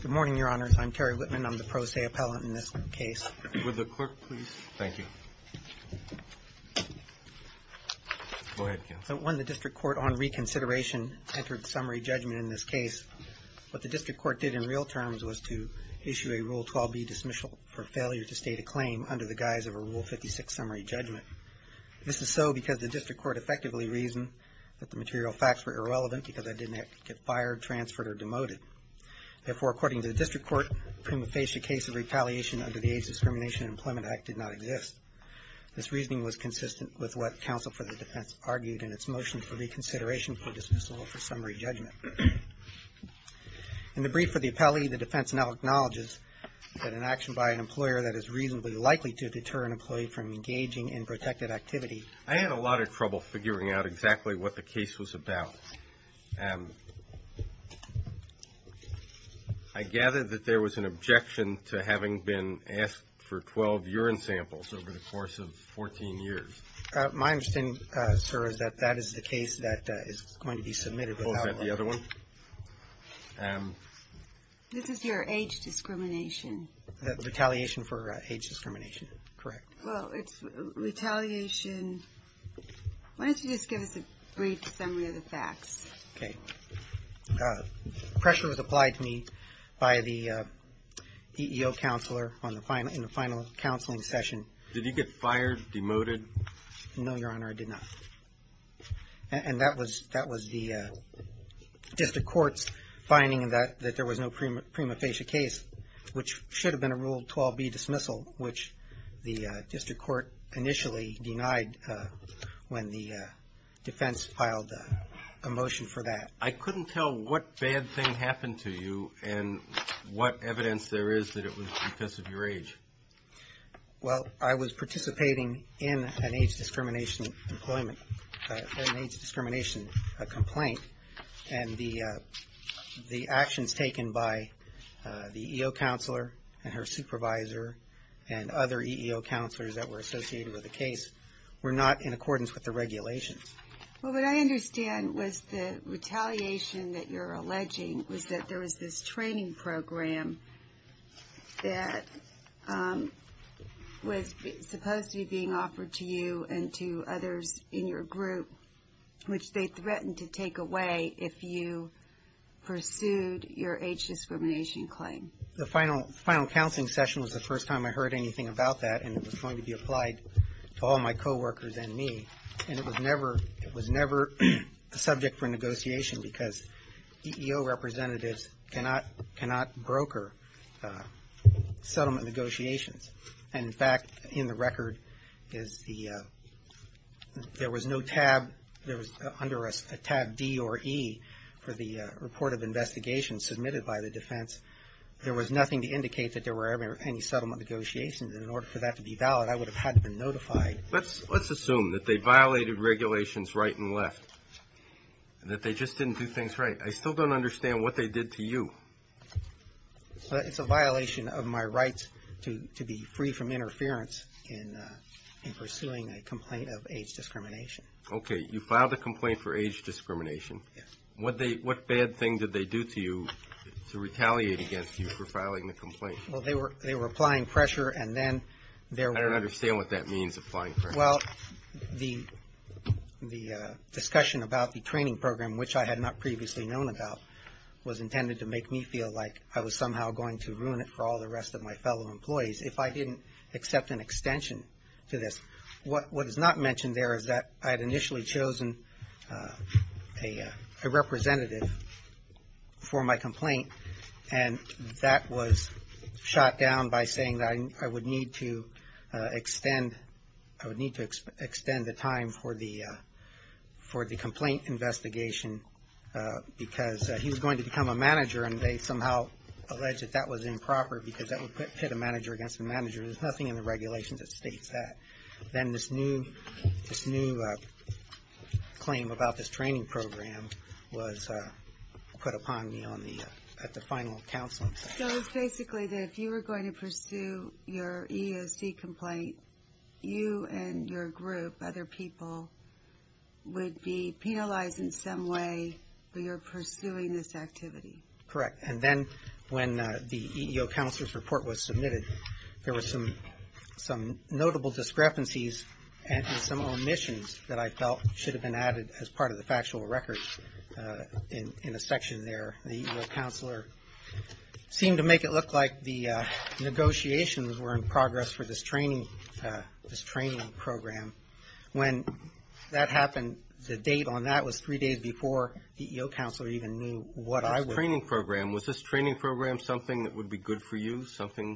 Good morning, Your Honors. I'm Terry Whitman. I'm the pro se appellant in this case. When the district court on reconsideration entered summary judgment in this case, what the district court did in real terms was to issue a Rule 12b dismissal for failure to state a claim under the guise of a Rule 56 summary judgment. This is so because the district court effectively reasoned that the material facts were irrelevant because they didn't have to get fired, transferred, or demoted. Therefore, according to the district court, the prima facie case of retaliation under the AIDS Discrimination and Employment Act did not exist. This reasoning was consistent with what counsel for the defense argued in its motion for reconsideration for dismissal for summary judgment. In the brief for the appellee, the defense now acknowledges that an action by an employer that is reasonably likely to deter an employee from engaging in protected activity. I had a lot of trouble figuring out exactly what the case was about. I gather that there was an objection to having been asked for 12 urine samples over the course of 14 years. My understanding, sir, is that that is the case that is going to be submitted. Is that the other one? This is your AIDS discrimination. Retaliation for AIDS discrimination, correct. Well, it's retaliation. Why don't you just give us a brief summary of the facts? Okay. Pressure was applied to me by the EEO counselor in the final counseling session. Did you get fired, demoted? No, Your Honor, I did not. And that was the district court's finding that there was no prima facie case, which should have been a Rule 12b dismissal, which the district court initially denied when the defense filed a motion for that. I couldn't tell what bad thing happened to you and what evidence there is that it was because of your age. Well, I was participating in an AIDS discrimination complaint, and the actions taken by the EEO counselor and her supervisor and other EEO counselors that were associated with the case were not in accordance with the regulations. Well, what I understand was the retaliation that you're alleging was that there was this training program that was supposed to be being offered to you and to others in your group, which they threatened to take away if you pursued your AIDS discrimination claim. The final counseling session was the first time I heard anything about that, and it was going to be applied to all my coworkers and me. And it was never the subject for negotiation because EEO representatives cannot broker settlement negotiations. And, in fact, in the record, there was no tab. There was under a tab D or E for the report of investigation submitted by the defense. There was nothing to indicate that there were any settlement negotiations, and in order for that to be valid, I would have had to have been notified. Let's assume that they violated regulations right and left, that they just didn't do things right. I still don't understand what they did to you. It's a violation of my rights to be free from interference in pursuing a complaint of AIDS discrimination. Okay. You filed a complaint for AIDS discrimination. Yes. What bad thing did they do to you to retaliate against you for filing the complaint? Well, they were applying pressure, and then there were – I don't understand what that means, applying pressure. Well, the discussion about the training program, which I had not previously known about, was intended to make me feel like I was somehow going to ruin it for all the rest of my fellow employees if I didn't accept an extension to this. What is not mentioned there is that I had initially chosen a representative for my complaint, and that was shot down by saying that I would need to extend the time for the complaint investigation because he's going to become a manager, and they somehow alleged that that was improper because that would pit a manager against a manager. There's nothing in the regulations that states that. Then this new claim about this training program was put upon me at the final counsel. So it's basically that if you were going to pursue your EEOC complaint, you and your group, other people, would be penalized in some way for your pursuing this activity. Correct. And then when the EEOC counselor's report was submitted, there were some notable discrepancies and some omissions that I felt should have been added as part of the factual record in a section there. The EEOC counselor seemed to make it look like the negotiations were in progress for this training program. When that happened, the date on that was three days before the EEOC counselor even knew what I was doing. This training program, was this training program something that would be good for you, some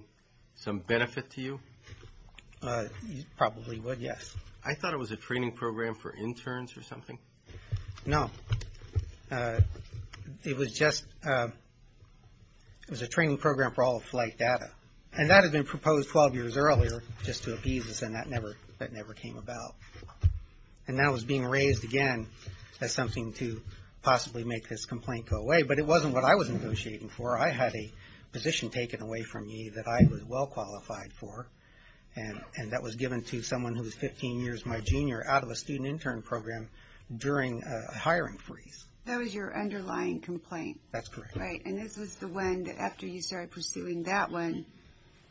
benefit to you? Probably would, yes. I thought it was a training program for interns or something. No. It was just a training program for all of flight data, and that had been proposed 12 years earlier just to appease us, and that never came about. And that was being raised again as something to possibly make this complaint go away, but it wasn't what I was negotiating for. I had a position taken away from me that I was well qualified for, and that was given to someone who was 15 years my junior out of a student intern program during a hiring freeze. That was your underlying complaint. That's correct. Right, and this was the one that after you started pursuing that one,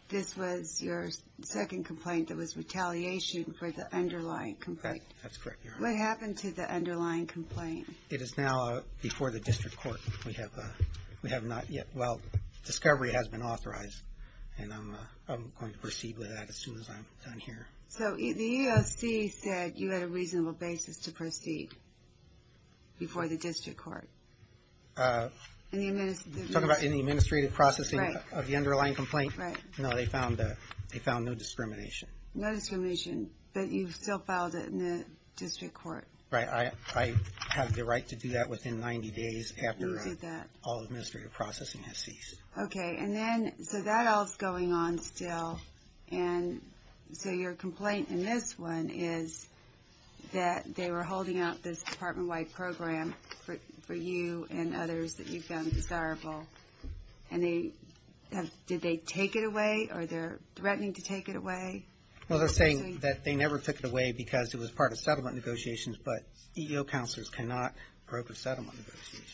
this was your second complaint that was retaliation for the underlying complaint. That's correct, Your Honor. What happened to the underlying complaint? It is now before the district court. We have not yet, well, discovery has been authorized, and I'm going to proceed with that as soon as I'm done here. So the EEOC said you had a reasonable basis to proceed before the district court. You're talking about in the administrative processing of the underlying complaint? Right. No, they found no discrimination. No discrimination, but you still filed it in the district court. Right, I have the right to do that within 90 days after all administrative processing has ceased. Okay, and then, so that all is going on still, and so your complaint in this one is that they were holding out this department-wide program for you and others that you found desirable, and did they take it away, or they're threatening to take it away? Well, they're saying that they never took it away because it was part of settlement negotiations, but EEO counselors cannot broker settlement negotiations.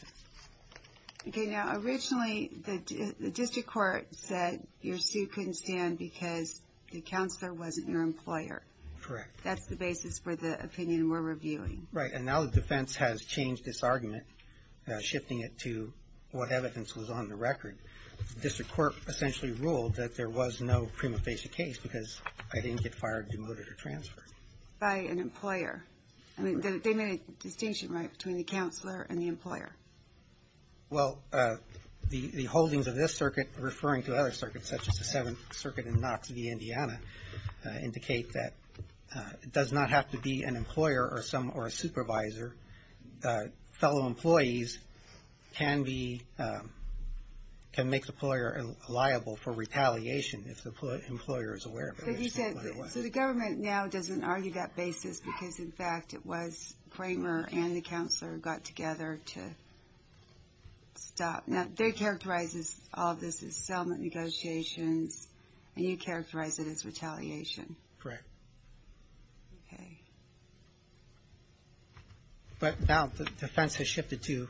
Okay, now, originally the district court said your suit couldn't stand because the counselor wasn't your employer. Correct. That's the basis for the opinion we're reviewing. Right, and now the defense has changed this argument, shifting it to what evidence was on the record. The district court essentially ruled that there was no prima facie case because I didn't get fired, demoted, or transferred. By an employer. I mean, they made a distinction, right, between the counselor and the employer. Well, the holdings of this circuit referring to other circuits, such as the Seventh Circuit in Knox v. Indiana, indicate that it does not have to be an employer or a supervisor. Fellow employees can make the employer liable for retaliation if the employer is aware of it. So the government now doesn't argue that basis because, in fact, it was Kramer and the counselor who got together to stop. Now, they characterize all of this as settlement negotiations, and you characterize it as retaliation. Correct. But now the defense has shifted to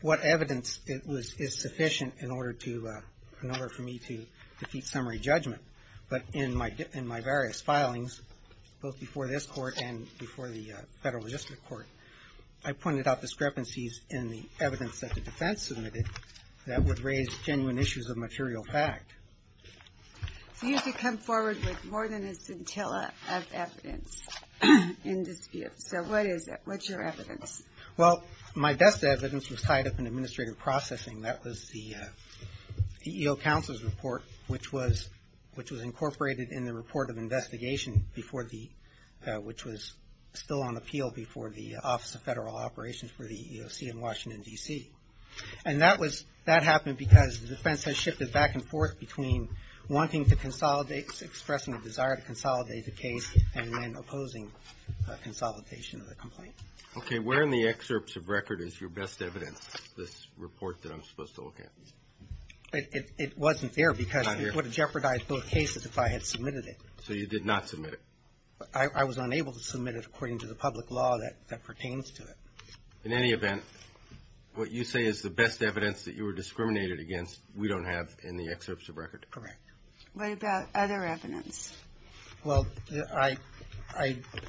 what evidence is sufficient in order for me to defeat summary judgment. But in my various filings, both before this court and before the federal district court, I pointed out discrepancies in the evidence that the defense submitted that would raise genuine issues of material fact. So you have to come forward with more than a scintilla of evidence in dispute. So what is it? What's your evidence? Well, my best evidence was tied up in administrative processing. That was the EEO counselor's report, which was incorporated in the report of investigation, which was still on appeal before the Office of Federal Operations for the EEOC in Washington, D.C. And that happened because the defense has shifted back and forth between wanting to consolidate, expressing a desire to consolidate the case, and then opposing consolidation of the complaint. Okay. Where in the excerpts of record is your best evidence, this report that I'm supposed to look at? It wasn't there because it would have jeopardized both cases if I had submitted it. So you did not submit it? I was unable to submit it according to the public law that pertains to it. In any event, what you say is the best evidence that you were discriminated against we don't have in the excerpts of record? Correct. What about other evidence? Well, I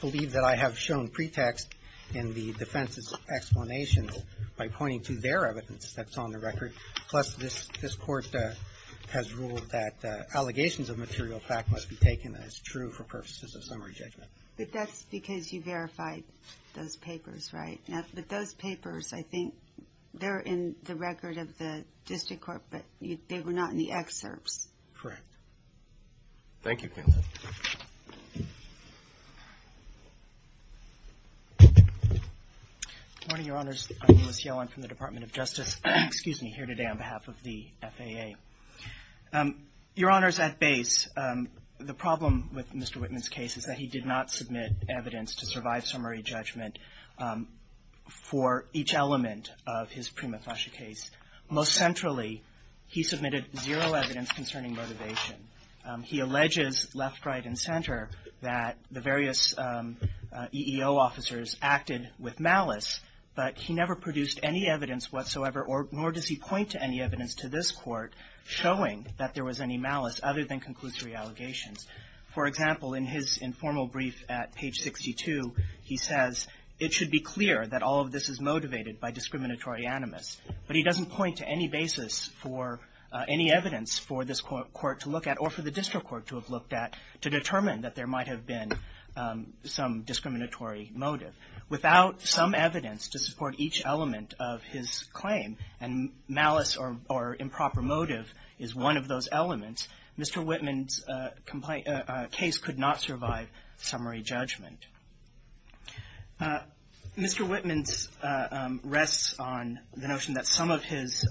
believe that I have shown pretext in the defense's explanations by pointing to their evidence that's on the record. Plus, this Court has ruled that allegations of material fact must be taken as true for purposes of summary judgment. But that's because you verified those papers, right? But those papers, I think, they're in the record of the district court, but they were not in the excerpts. Correct. Thank you, counsel. Good morning, Your Honors. I'm Ulyss Yellen from the Department of Justice. Excuse me, here today on behalf of the FAA. Your Honors, at base, the problem with Mr. Whitman's case is that he did not submit evidence to survive summary judgment for each element of his prima facie case. Most centrally, he submitted zero evidence concerning motivation. He alleges left, right, and center that the various EEO officers acted with malice, but he never produced any evidence whatsoever, nor does he point to any evidence to this Court showing that there was any malice other than conclusory allegations. For example, in his informal brief at page 62, he says, it should be clear that all of this is motivated by discriminatory animus. But he doesn't point to any basis for any evidence for this Court to look at or for the district court to have looked at to determine that there might have been some discriminatory motive. Without some evidence to support each element of his claim, and malice or improper motive is one of those elements, Mr. Whitman's case could not survive summary judgment. Mr. Whitman's rests on the notion that some of his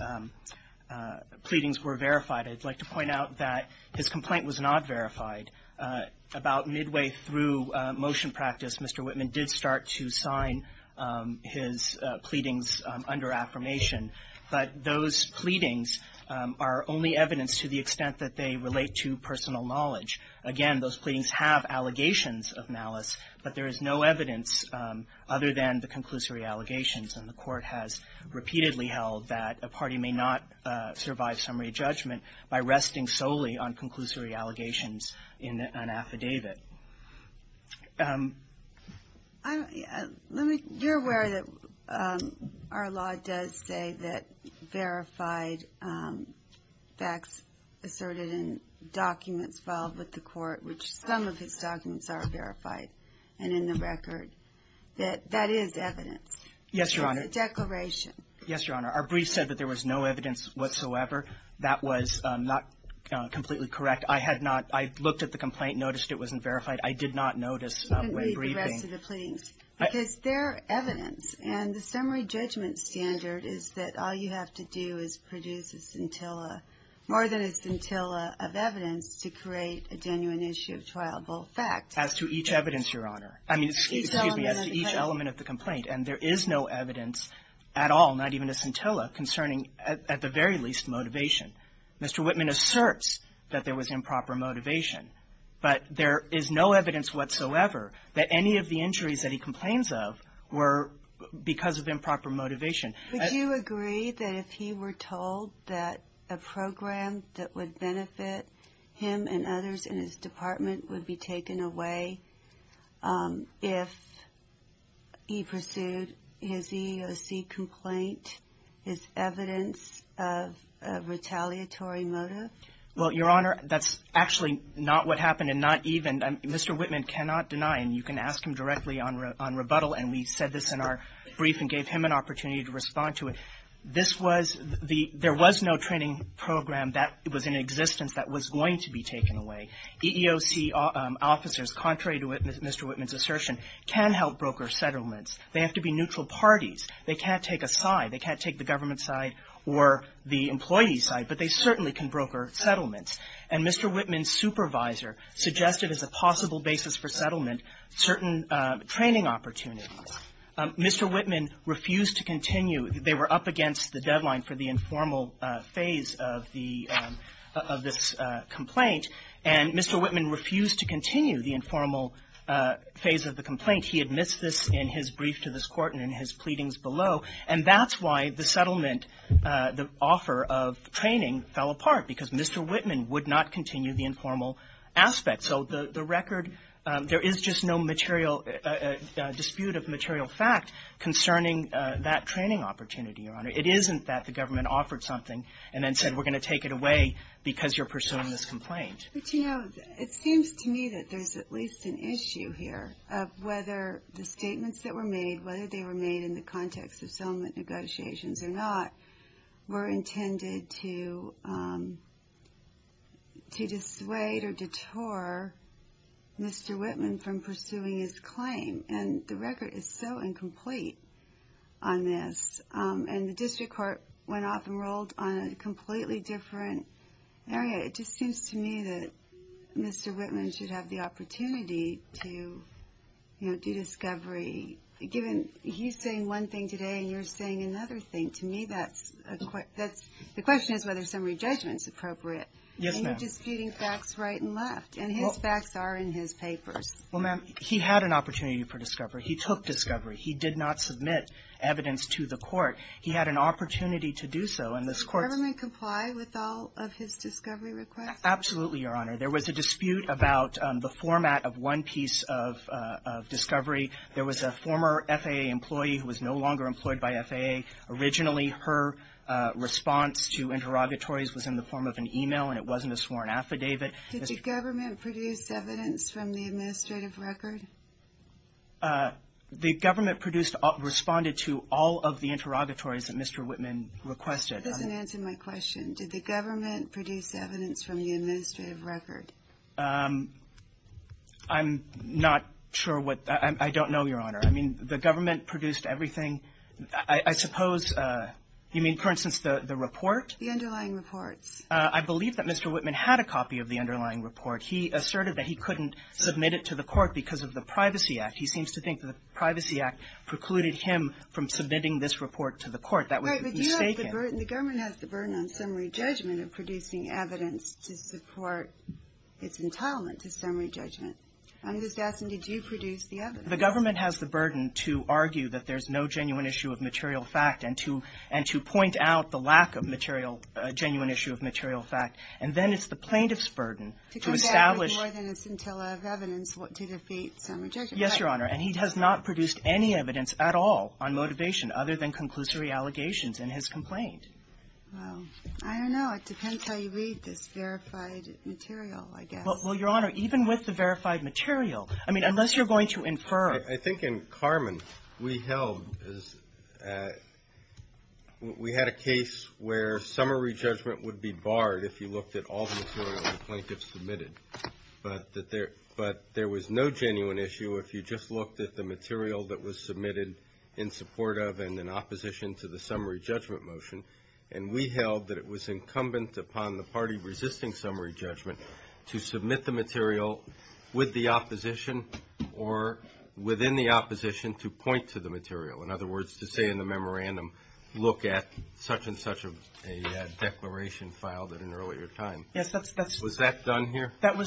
pleadings were verified. I'd like to point out that his complaint was not verified. About midway through motion practice, Mr. Whitman did start to sign his pleadings under affirmation. But those pleadings are only evidence to the extent that they relate to personal knowledge. Again, those pleadings have allegations of malice, but there is no evidence other than the conclusory allegations. And the Court has repeatedly held that a party may not survive summary judgment by resting solely on conclusory allegations in an affidavit. You're aware that our law does say that verified facts asserted in documents filed with the Court, which some of his documents are verified and in the record, that that is evidence. Yes, Your Honor. It's a declaration. Yes, Your Honor. Our brief said that there was no evidence whatsoever. That was not completely correct. I had not – I looked at the complaint, noticed it wasn't verified. I did not notice when briefing. You can read the rest of the pleadings. Because they're evidence, and the summary judgment standard is that all you have to do is produce a scintilla, more than a scintilla of evidence, to create a genuine issue of trialable fact. As to each evidence, Your Honor. I mean, excuse me, as to each element of the complaint. And there is no evidence at all, not even a scintilla, concerning at the very least motivation. Mr. Whitman asserts that there was improper motivation, but there is no evidence whatsoever that any of the injuries that he complains of were because of improper motivation. Would you agree that if he were told that a program that would benefit him and others in his department would be taken away if he pursued his EEOC complaint, his evidence of retaliatory motive? Well, Your Honor, that's actually not what happened, and not even – Mr. Whitman cannot deny, and you can ask him directly on rebuttal. And we said this in our brief and gave him an opportunity to respond to it. This was the – there was no training program that was in existence that was going to be taken away. EEOC officers, contrary to Mr. Whitman's assertion, can help broker settlements. They have to be neutral parties. They can't take a side. They can't take the government side or the employee side, but they certainly can broker settlements. And Mr. Whitman's supervisor suggested as a possible basis for settlement certain training opportunities. Mr. Whitman refused to continue. They were up against the deadline for the informal phase of the – of this complaint, and Mr. Whitman refused to continue the informal phase of the complaint. He admits this in his brief to this Court and in his pleadings below. And that's why the settlement – the offer of training fell apart, because Mr. Whitman would not continue the informal aspect. So the record – there is just no material – dispute of material fact concerning that training opportunity, Your Honor. It isn't that the government offered something and then said, we're going to take it away because you're pursuing this complaint. But, you know, it seems to me that there's at least an issue here of whether the statements that were made, whether they were made in the context of settlement negotiations or not, were intended to dissuade or detour Mr. Whitman from pursuing his claim. And the record is so incomplete on this. And the district court went off and rolled on a completely different area. It just seems to me that Mr. Whitman should have the opportunity to, you know, do discovery, given he's saying one thing today and you're saying another thing. To me, that's – the question is whether summary judgment's appropriate. Yes, ma'am. And you're disputing facts right and left. And his facts are in his papers. Well, ma'am, he had an opportunity for discovery. He took discovery. He did not submit evidence to the Court. He had an opportunity to do so, and this Court's – Did he comply with all of his discovery requests? Absolutely, Your Honor. There was a dispute about the format of one piece of discovery. There was a former FAA employee who was no longer employed by FAA. Originally, her response to interrogatories was in the form of an email, and it wasn't a sworn affidavit. Did the government produce evidence from the administrative record? The government produced – responded to all of the interrogatories that Mr. Whitman requested. That doesn't answer my question. Did the government produce evidence from the administrative record? I'm not sure what – I don't know, Your Honor. I mean, the government produced everything. I suppose – you mean, for instance, the report? The underlying reports. I believe that Mr. Whitman had a copy of the underlying report. He asserted that he couldn't submit it to the Court because of the Privacy Act. He seems to think the Privacy Act precluded him from submitting this report to the Court. That would be mistaken. The government has the burden on summary judgment of producing evidence to support its entitlement to summary judgment. I'm just asking, did you produce the evidence? The government has the burden to argue that there's no genuine issue of material fact and to point out the lack of material – genuine issue of material fact. And then it's the plaintiff's burden to establish – To come back with more than a scintilla of evidence to defeat summary judgment. Yes, Your Honor. And he has not produced any evidence at all on motivation other than conclusory allegations in his complaint. Well, I don't know. It depends how you read this verified material, I guess. Well, Your Honor, even with the verified material, I mean, unless you're going to infer – I think in Carmen, we held – we had a case where summary judgment would be barred if you looked at all the material the plaintiff submitted. But there was no genuine issue if you just looked at the material that was submitted in support of and in opposition to the summary judgment motion. And we held that it was incumbent upon the party resisting summary judgment to submit the material with the opposition or within the opposition to point to the material. In other words, to say in the memorandum, look at such and such a declaration filed at an earlier time. Yes, that's – That was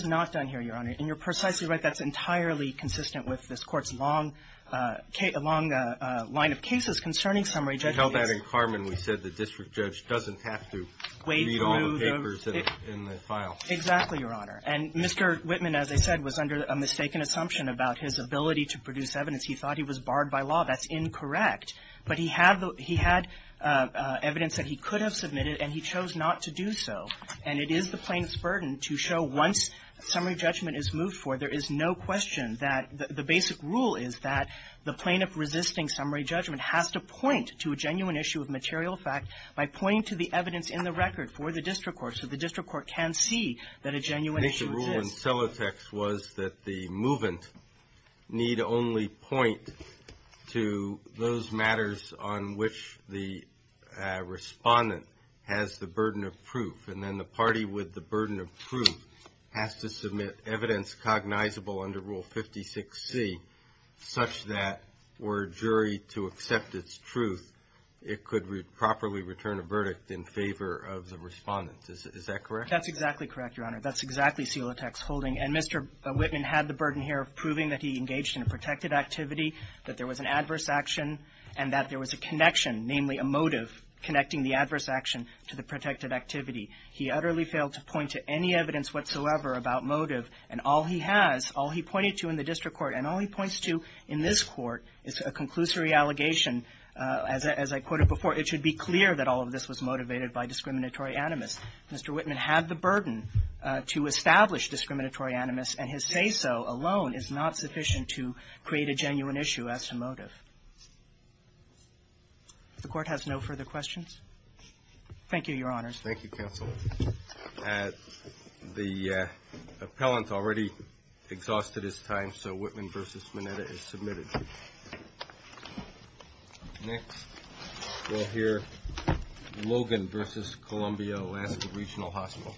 not done here, Your Honor. And you're precisely right. That's entirely consistent with this Court's long line of cases concerning summary judgment. We held that in Carmen. We said the district judge doesn't have to read all the papers in the file. Exactly, Your Honor. And Mr. Whitman, as I said, was under a mistaken assumption about his ability to produce evidence. He thought he was barred by law. That's incorrect. But he had evidence that he could have submitted, and he chose not to do so. And it is the plaintiff's burden to show once summary judgment is moved forward, there is no question that the basic rule is that the plaintiff resisting summary judgment has to point to a genuine issue of material fact by pointing to the evidence in the record for the district court so the district court can see that a genuine issue exists. I think the rule in Celotex was that the movant need only point to those matters on which the respondent has the burden of proof, and then the party with the burden of proof has to submit evidence cognizable under Rule 56C such that for a jury to accept its truth, it could properly return a verdict in favor of the respondent. Is that correct? That's exactly correct, Your Honor. That's exactly Celotex's holding. And Mr. Whitman had the burden here of proving that he engaged in a protected activity, that there was an adverse action, and that there was a connection, namely a motive, connecting the adverse action to the protected activity. He utterly failed to point to any evidence whatsoever about motive, and all he has, all he pointed to in the district court, and all he points to in this court is a conclusory allegation. As I quoted before, it should be clear that all of this was motivated by discriminatory animus. Mr. Whitman had the burden to establish discriminatory animus, and his say-so alone is not sufficient to create a genuine issue as to motive. The Court has no further questions. Thank you, Your Honors. Thank you, counsel. The appellant already exhausted his time, so Whitman v. Mineta is submitted. Next we'll hear Logan v. Columbia Alaska Regional Hospital.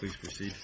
Please proceed.